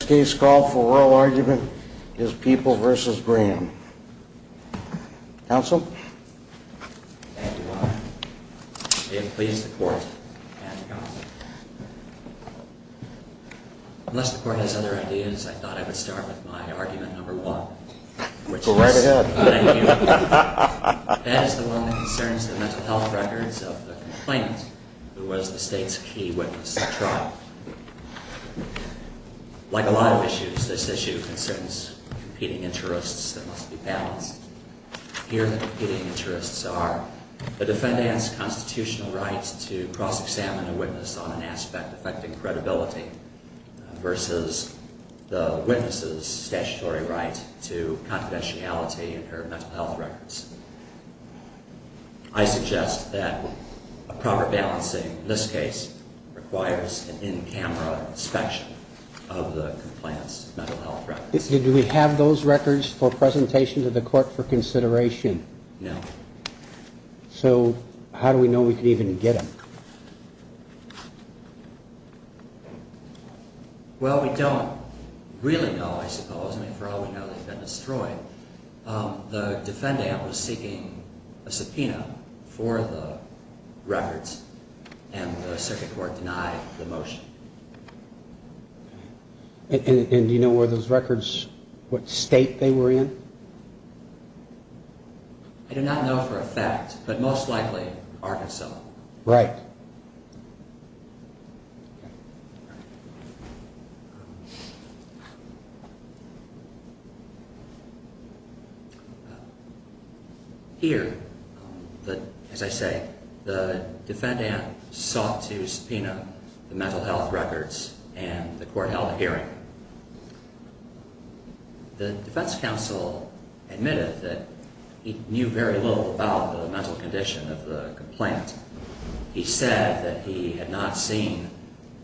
This case, called for oral argument, is People v. Graham. Counsel? Thank you, Your Honor. May it please the Court and the Counsel. Unless the Court has other ideas, I thought I would start with my argument number one. Go right ahead. That is the one that concerns the mental health records of the complainant who was the State's key witness at trial. Like a lot of issues, this issue concerns competing interests that must be balanced. Here the competing interests are the defendant's constitutional right to cross-examine a witness on an aspect affecting credibility versus the witness's statutory right to confidentiality in her mental health records. I suggest that a proper balancing in this case requires an in-camera inspection of the complainant's mental health records. Do we have those records for presentation to the Court for consideration? No. So how do we know we can even get them? Well, we don't really know, I suppose. I mean, for all we know, they've been destroyed. The defendant was seeking a subpoena for the records, and the Circuit Court denied the motion. And do you know where those records, what state they were in? I do not know for a fact, but most likely Arkansas. Right. Here, as I say, the defendant sought to subpoena the mental health records, and the Court held a hearing. The defense counsel admitted that he knew very little about the mental condition of the complainant. He said that he had not seen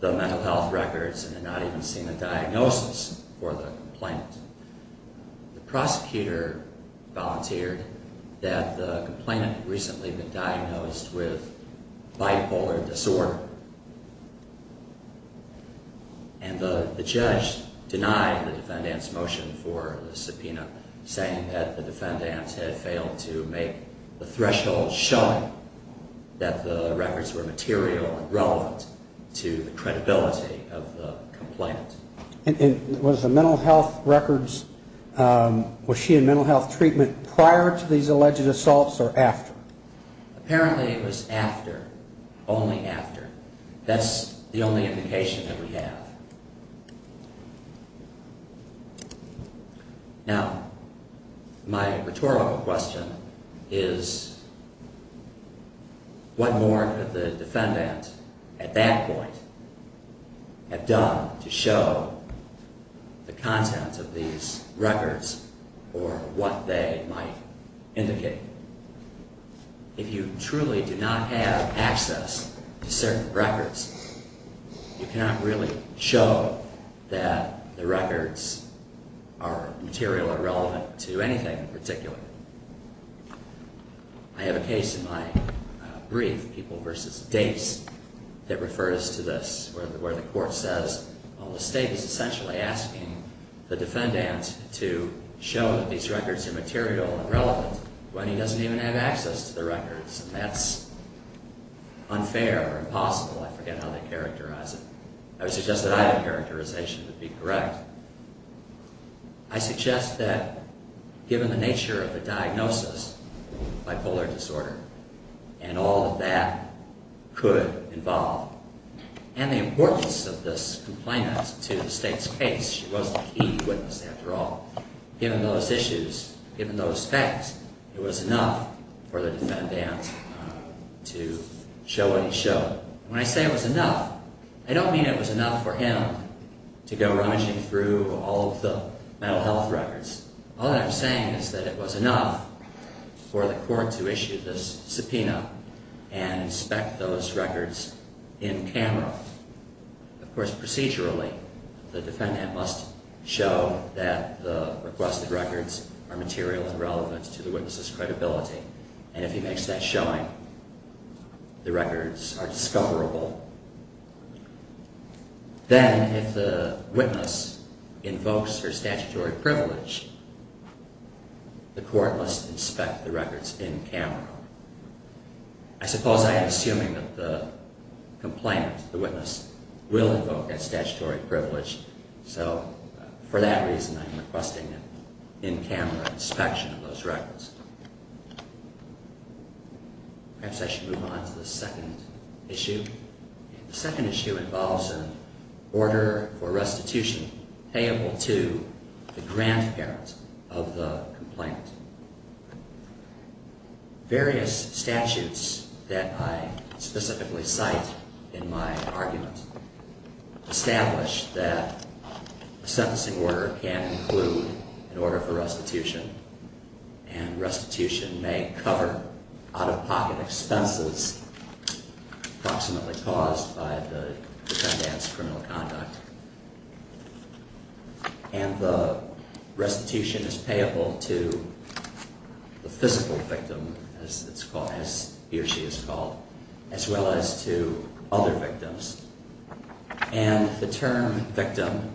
the mental health records and had not even seen a diagnosis for the complainant. The prosecutor volunteered that the complainant had recently been diagnosed with bipolar disorder, and the judge denied the defendant's motion for the subpoena, saying that the defendant had failed to make the threshold showing that the records were material and relevant to the credibility of the complainant. And was the mental health records, was she in mental health treatment prior to these alleged assaults or after? Apparently it was after, only after. That's the only indication that we have. Now, my rhetorical question is what more could the defendant at that point have done to show the contents of these records or what they might indicate? If you truly do not have access to certain records, you cannot really show that the records are material or relevant to anything in particular. I have a case in my brief, People v. Dates, that refers to this, where the Court says, well, the State is essentially asking the defendant to show that these records are material and relevant when he doesn't even have access to the records, and that's unfair or impossible. I forget how they characterize it. I would suggest that either characterization would be correct. I suggest that given the nature of the diagnosis, bipolar disorder, and all that that could involve, and the importance of this complainant to the State's case, she was the key witness after all, given those issues, given those facts, it was enough for the defendant to show what he showed. When I say it was enough, I don't mean it was enough for him to go rummaging through all of the mental health records. All that I'm saying is that it was enough for the Court to issue this subpoena and inspect those records in camera. Of course, procedurally, the defendant must show that the requested records are material and relevant to the witness's credibility, and if he makes that showing, the records are discoverable. Then, if the witness invokes her statutory privilege, the Court must inspect the records in camera. I suppose I am assuming that the complainant, the witness, will invoke that statutory privilege, so for that reason, I'm requesting an in-camera inspection of those records. Perhaps I should move on to the second issue. The second issue involves an order for restitution payable to the grandparent of the complainant. Various statutes that I specifically cite in my argument establish that a sentencing order can include an order for restitution, and restitution may cover out-of-pocket expenses approximately caused by the defendant's criminal conduct. And the restitution is payable to the physical victim, as he or she is called, as well as to other victims. And the term victim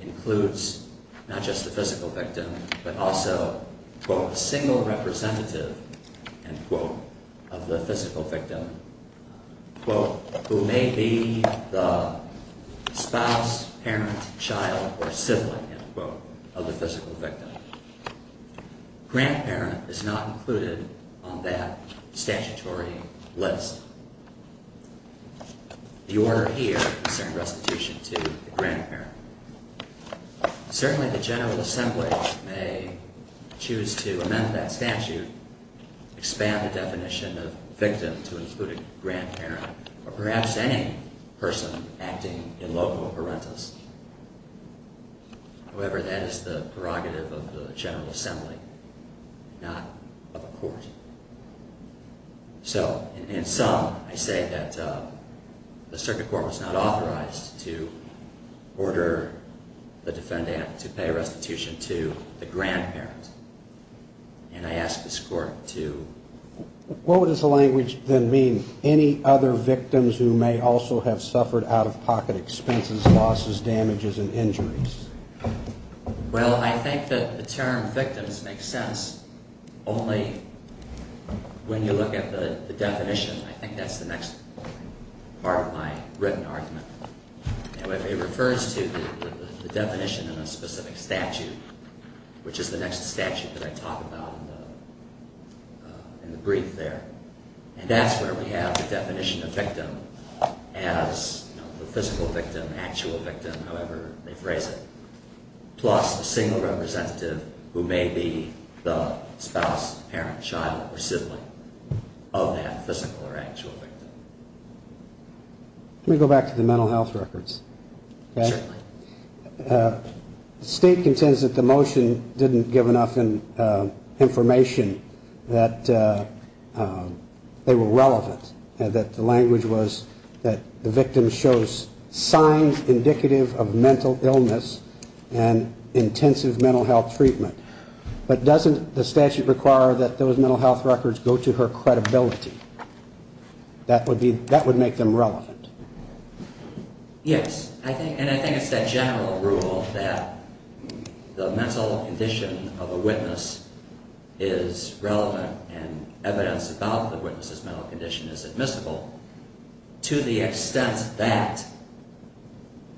includes not just the physical victim, but also, quote, a single representative, end quote, of the physical victim, quote, who may be the spouse, parent, child, or sibling, end quote, of the physical victim. Grandparent is not included on that statutory list. The order here concerns restitution to the grandparent. Certainly, the General Assembly may choose to amend that statute, expand the definition of victim to include a grandparent, or perhaps any person acting in loco parentis. However, that is the prerogative of the General Assembly, not of a court. So, in sum, I say that the Circuit Court was not authorized to order the defendant to pay restitution to the grandparent. And I ask this Court to... What would the language then mean, any other victims who may also have suffered out-of-pocket expenses, losses, damages, and injuries? Well, I think that the term victims makes sense only when you look at the definition. I think that's the next part of my written argument. It refers to the definition in a specific statute, which is the next statute that I talk about in the brief there. And that's where we have the definition of victim as the physical victim, actual victim, however they phrase it, plus a single representative who may be the spouse, parent, child, or sibling of that physical or actual victim. Let me go back to the mental health records. Certainly. State contends that the motion didn't give enough information that they were relevant, that the language was that the victim shows signs indicative of mental illness and intensive mental health treatment. But doesn't the statute require that those mental health records go to her credibility? That would make them relevant. Yes. And I think it's that general rule that the mental condition of a witness is relevant and evidence about the witness's mental condition is admissible to the extent that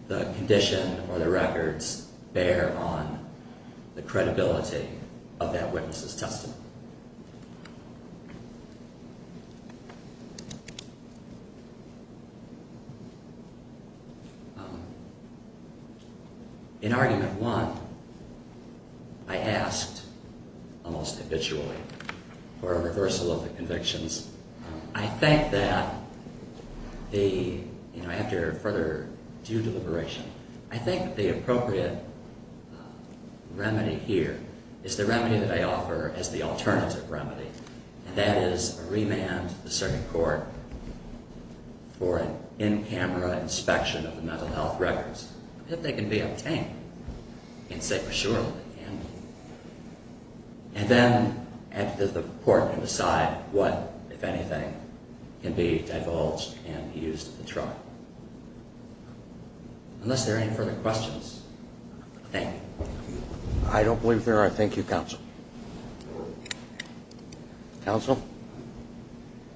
the condition or the records bear on the credibility of that witness's testimony. In argument one, I asked almost habitually for a reversal of the convictions. I think that the, you know, I have to further due deliberation. I think the appropriate remedy here is the remedy that I offer as the alternative remedy. And that is a remand to the circuit court for an in-camera inspection of the mental health records. If they can be obtained, I can say for sure that they can be. And then the court can decide what, if anything, can be divulged and used at the trial. Unless there are any further questions, thank you. I don't believe there are. Thank you, counsel. Counsel?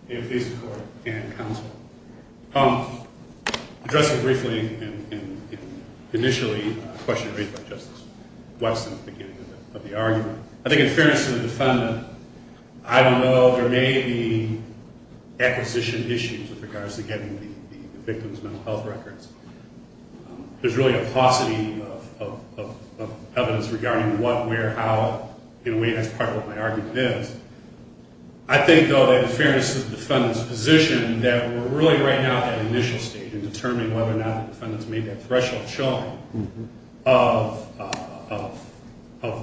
May it please the court and counsel. Addressing briefly and initially a question raised by Justice Wesson at the beginning of the argument, I think in fairness to the defendant, I don't know, there may be acquisition issues with regards to getting the victim's mental health records. There's really a paucity of evidence regarding what, where, how, in a way that's part of what my argument is. I think, though, that in fairness to the defendant's position, that we're really right now at that initial stage in determining whether or not the defendant's made that threshold showing of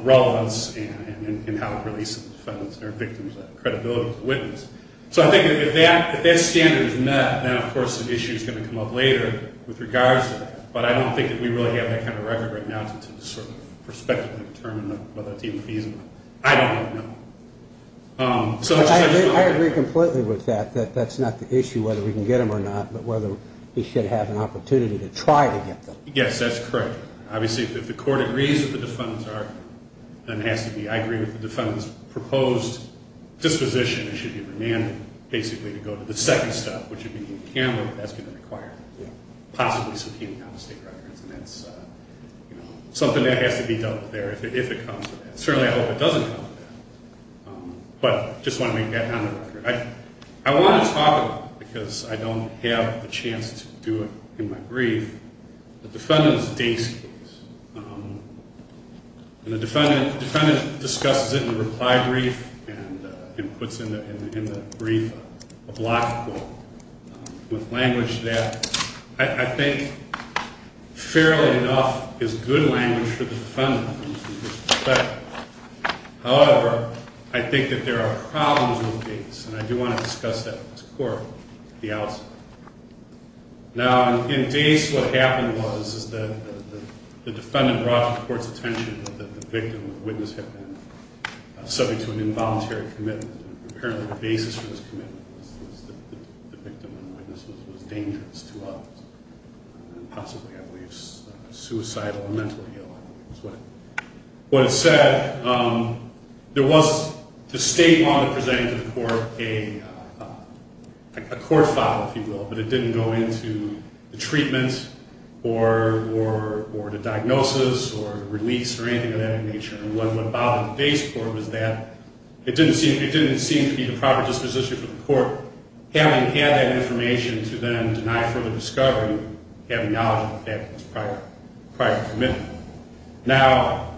relevance and how to release the defendant's or victim's credibility as a witness. So I think if that standard is met, then of course the issue is going to come up later with regards to that. But I don't think that we really have that kind of record right now to sort of prospectively determine whether it's even feasible. I don't know. I agree completely with that, that that's not the issue, whether we can get them or not, but whether we should have an opportunity to try to get them. Yes, that's correct. Obviously, if the court agrees with the defendant's argument, then it has to be. I agree with the defendant's proposed disposition. It should be remanded, basically, to go to the second step, which would be to encounter if that's even required, possibly subpoenaed out of state records. And that's something that has to be dealt with there if it comes to that. Certainly, I hope it doesn't come to that. But I just want to make that kind of record. I want to talk about it because I don't have a chance to do it in my brief. The defendant's case, and the defendant discusses it in the reply brief and puts in the brief a block quote with language that I think fairly enough is good language for the defendant in this respect. However, I think that there are problems with Dace, and I do want to discuss that with this court at the outset. Now, in Dace, what happened was that the defendant brought to the court's attention that the victim and witness had been subject to an involuntary commitment. Apparently, the basis for this commitment was that the victim and witness was dangerous to others, and possibly, I believe, suicidal or mentally ill. That's what it said. There was, the statement presented to the court, a court file, if you will, but it didn't go into the treatment or the diagnosis or release or anything of that nature. And what bothered Dace Court was that it didn't seem to be the proper disposition for the court, having had that information to then deny further discovery, having knowledge of the fact that it was prior commitment. Now,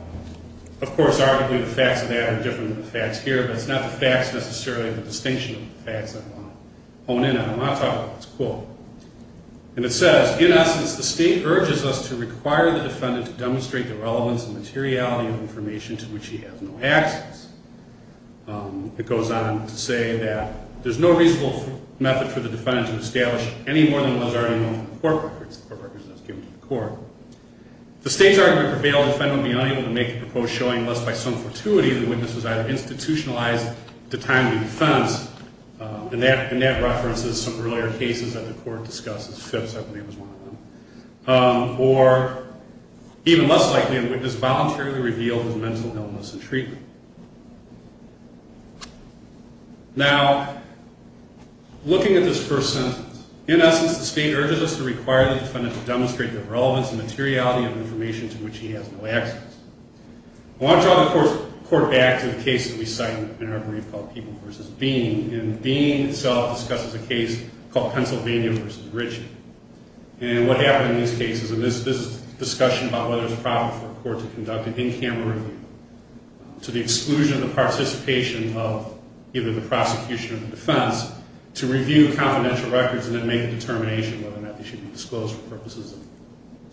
of course, arguably the facts of that are different than the facts here, but it's not the facts necessarily the distinction of the facts that I want to hone in on. I want to talk about this quote. And it says, in essence, the state urges us to require the defendant to demonstrate the relevance and materiality of information to which he has no access. It goes on to say that there's no reasonable method for the defendant to establish any more than what is already known in the court records, the court records as given to the court. If the state's argument prevailed, the defendant would be unable to make the proposed showing, unless by some fortuity the witness was either institutionalized at the time of the offense, and that references some earlier cases that the court discusses. Or, even less likely, the witness voluntarily revealed his mental illness and treatment. Now, looking at this first sentence, in essence, the state urges us to require the defendant to demonstrate the relevance and materiality of information to which he has no access. I want to draw the court back to the case that we cite in our brief called People v. Bean. And Bean itself discusses a case called Pennsylvania v. Ritchie. And what happened in these cases, and this discussion about whether it's proper for a court to conduct an in-camera review to the exclusion of the participation of either the prosecution or the defense to review confidential records and then make a determination whether or not they should be disclosed for purposes of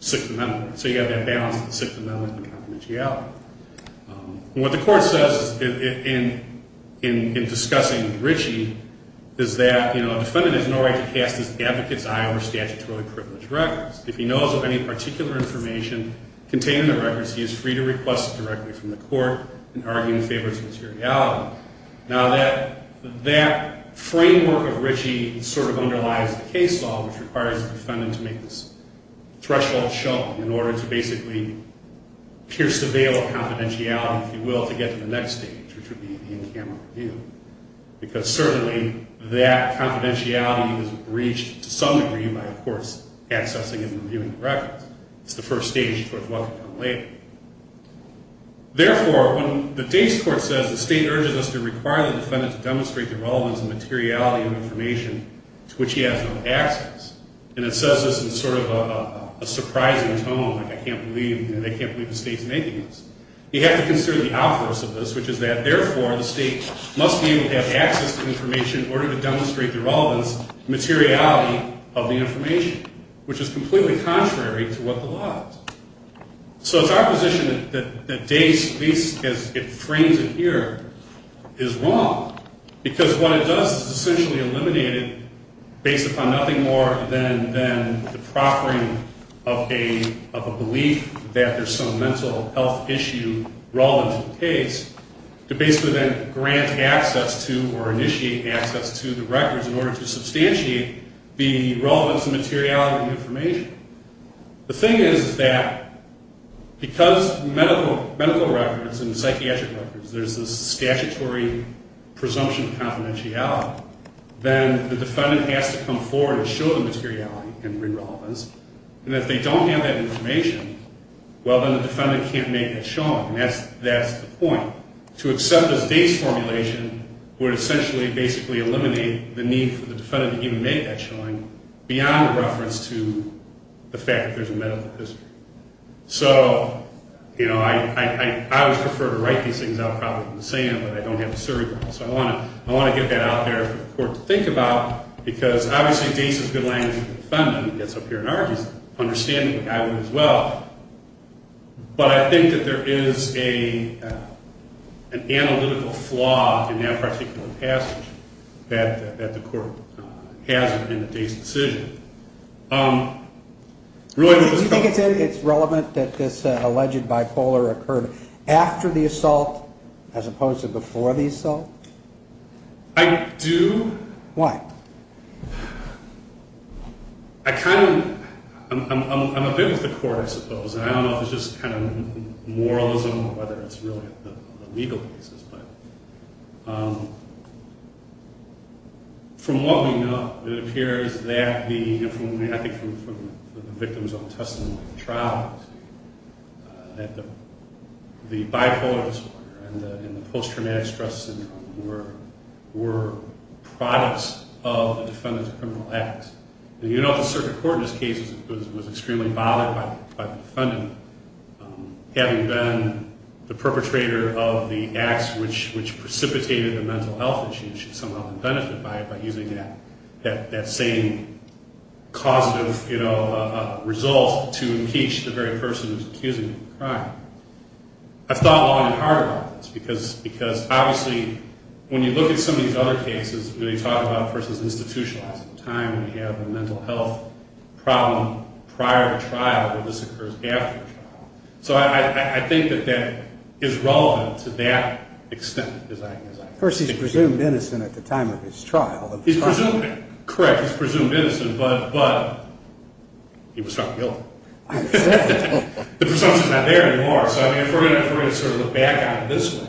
sixth amendment. So you have that balance of the sixth amendment and confidentiality. And what the court says in discussing with Ritchie is that, you know, the defendant has no right to cast his advocate's eye over statutorily privileged records. If he knows of any particular information contained in the records, he is free to request it directly from the court in arguing in favor of its materiality. Now, that framework of Ritchie sort of underlies the case law, which requires the defendant to make this threshold jump in order to basically pierce the veil of confidentiality, if you will, to get to the next stage, which would be the in-camera review. Because certainly that confidentiality is breached to some degree by the courts accessing and reviewing the records. It's the first stage before it's welcome to come later. Therefore, when the Dase Court says the state urges us to require the defendant to demonstrate the relevance and materiality of information to which he has no access, and it says this in sort of a surprising tone, like I can't believe, you know, they can't believe the state's making this. You have to consider the outburst of this, which is that therefore the state must be able to have access to information in order to demonstrate the relevance and materiality of the information, which is completely contrary to what the law is. So it's our position that Dase, at least as it frames it here, is wrong, because what it does is essentially eliminate it based upon nothing more than the proffering of a belief that there's some mental health issue relevant to the case, to basically then grant access to or initiate access to the records in order to substantiate the relevance and materiality of the information. The thing is that because medical records and psychiatric records, there's this statutory presumption of confidentiality, then the defendant has to come forward and show the materiality and relevance, and if they don't have that information, well, then the defendant can't make that showing, and that's the point. To accept this Dase formulation would essentially basically eliminate the need for the defendant to even make that showing beyond a reference to the fact that there's a medical history. So, you know, I always prefer to write these things out probably from the sand, but I don't have the surrogate, so I want to get that out there for the court to think about, because obviously Dase has good language with the defendant, and he gets up here and argues, understandingably, I would as well, but I think that there is an analytical flaw in that particular passage that the court has in the Dase decision. Do you think it's relevant that this alleged bipolar occurred after the assault as opposed to before the assault? I do. Why? I kind of, I'm a big with the court, I suppose, and I don't know if it's just kind of moralism or whether it's really the legal basis, but from what we know, it appears that the, I think from the victim's own testimony at the trial, that the bipolar disorder and the post-traumatic stress syndrome were products of the defendant's criminal acts. And you know the circuit court in this case was extremely bothered by the defendant having been the perpetrator of the acts which precipitated the mental health issue by using that same causative, you know, result to impeach the very person who's accusing him of the crime. I've thought long and hard about this, because obviously when you look at some of these other cases, when you talk about a person's institutionalized time, we have a mental health problem prior to trial where this occurs after the trial. So I think that that is relevant to that extent. First, he's presumed innocent at the time of his trial. He's presumed, correct, he's presumed innocent, but he was found guilty. The presumption's not there anymore. So if we're going to sort of look back on it this way,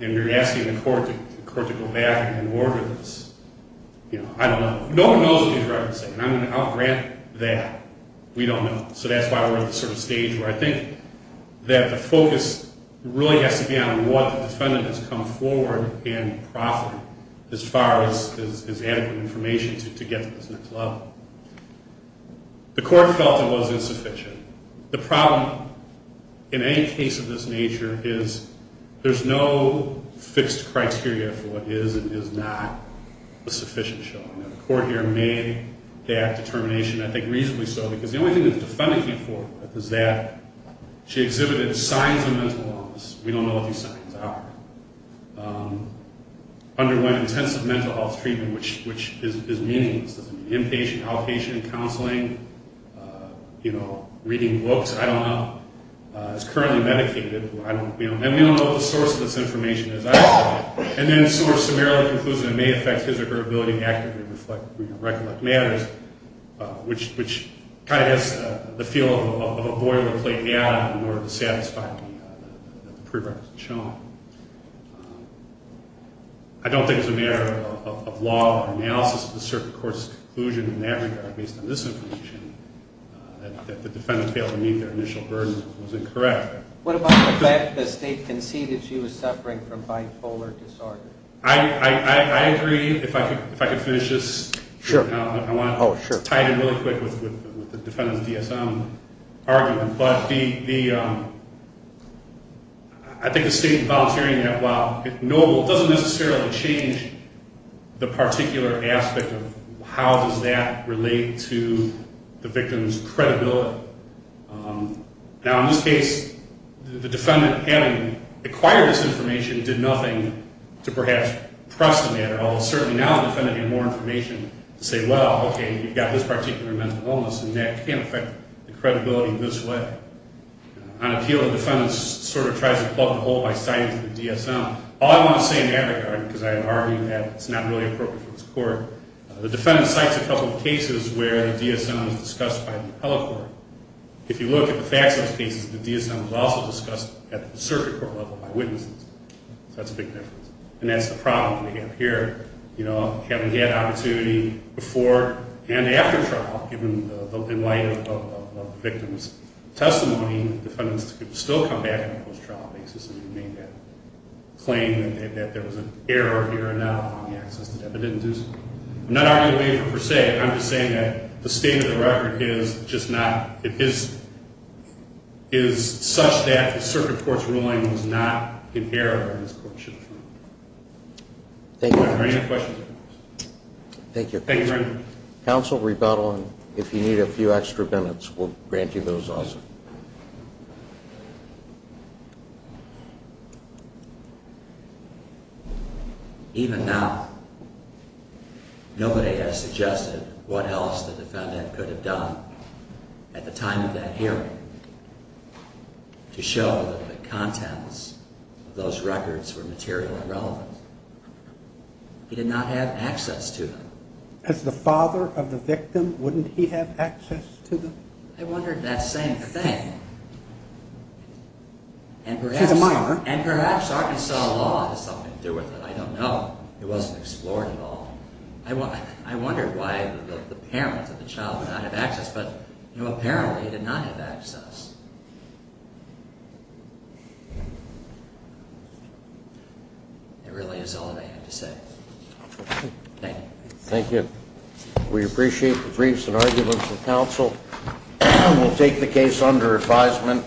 and you're asking the court to go back and order this, you know, I don't know. No one knows what he's referencing, and I'm going to out grant that we don't know. So that's why we're at the sort of stage where I think that the focus really has to be on what the defendant has come forward and proffered as far as adequate information to get to this next level. The court felt it was insufficient. The problem in any case of this nature is there's no fixed criteria for what is and is not a sufficient showing. The court here made that determination, I think reasonably so, because the only thing that the defendant came forward with is that she exhibited signs of mental illness. We don't know what these signs are. Underwent intensive mental health treatment, which is meaningless. Does it mean inpatient, outpatient, counseling, you know, reading books? I don't know. Is currently medicated. And we don't know the source of this information as I find it. And then sort of summarily concludes that it may affect his or her ability to accurately reflect or recollect matters, which kind of has the feel of a boilerplate in order to satisfy the prerequisite shown. I don't think it's a matter of law or analysis of the circuit court's conclusion in that regard, based on this information, that the defendant failed to meet their initial burden and was incorrect. What about the fact that the state conceded she was suffering from bipolar disorder? I agree. If I could finish this. Sure. I want to tie it in really quick with the defendant's DSM argument. But I think the state volunteering that, while knowable, doesn't necessarily change the particular aspect of how does that relate to the victim's credibility. Now, in this case, the defendant having acquired this information did nothing to perhaps press the matter, although certainly now the defendant had more information to say, well, okay, you've got this particular mental illness and that can affect the credibility this way. On appeal, the defendant sort of tries to plug the hole by citing the DSM. All I want to say in that regard, because I have argued that it's not really appropriate for this court, the defendant cites a couple of cases where the DSM is discussed by the appellate court. If you look at the Faxos cases, the DSM was also discussed at the circuit court level by witnesses. So that's a big difference. And that's the problem we have here. You know, having had opportunity before and after trial in light of the victim's testimony, the defendants could still come back on a post-trial basis and remain that claim that there was an error here and now on the access to that, but it didn't do so. I'm not arguing the waiver per se. I'm just saying that the state of the record is just not, it is such that the circuit court's ruling was not in error and this court should have found it. Thank you. Are there any other questions? Thank you. Thank you very much. Counsel, rebuttal, and if you need a few extra minutes, we'll grant you those also. Even now, nobody has suggested what else the defendant could have done at the time of that hearing to show that the contents of those records were material and relevant. He did not have access to them. As the father of the victim, wouldn't he have access to them? I wondered that same thing. And perhaps Arkansas law has something to do with it. I don't know. It wasn't explored at all. I wondered why the parent of the child would not have access, but apparently he did not have access. That really is all that I have to say. Thank you. Thank you. We appreciate the briefs and arguments of counsel. We'll take the case under advisement.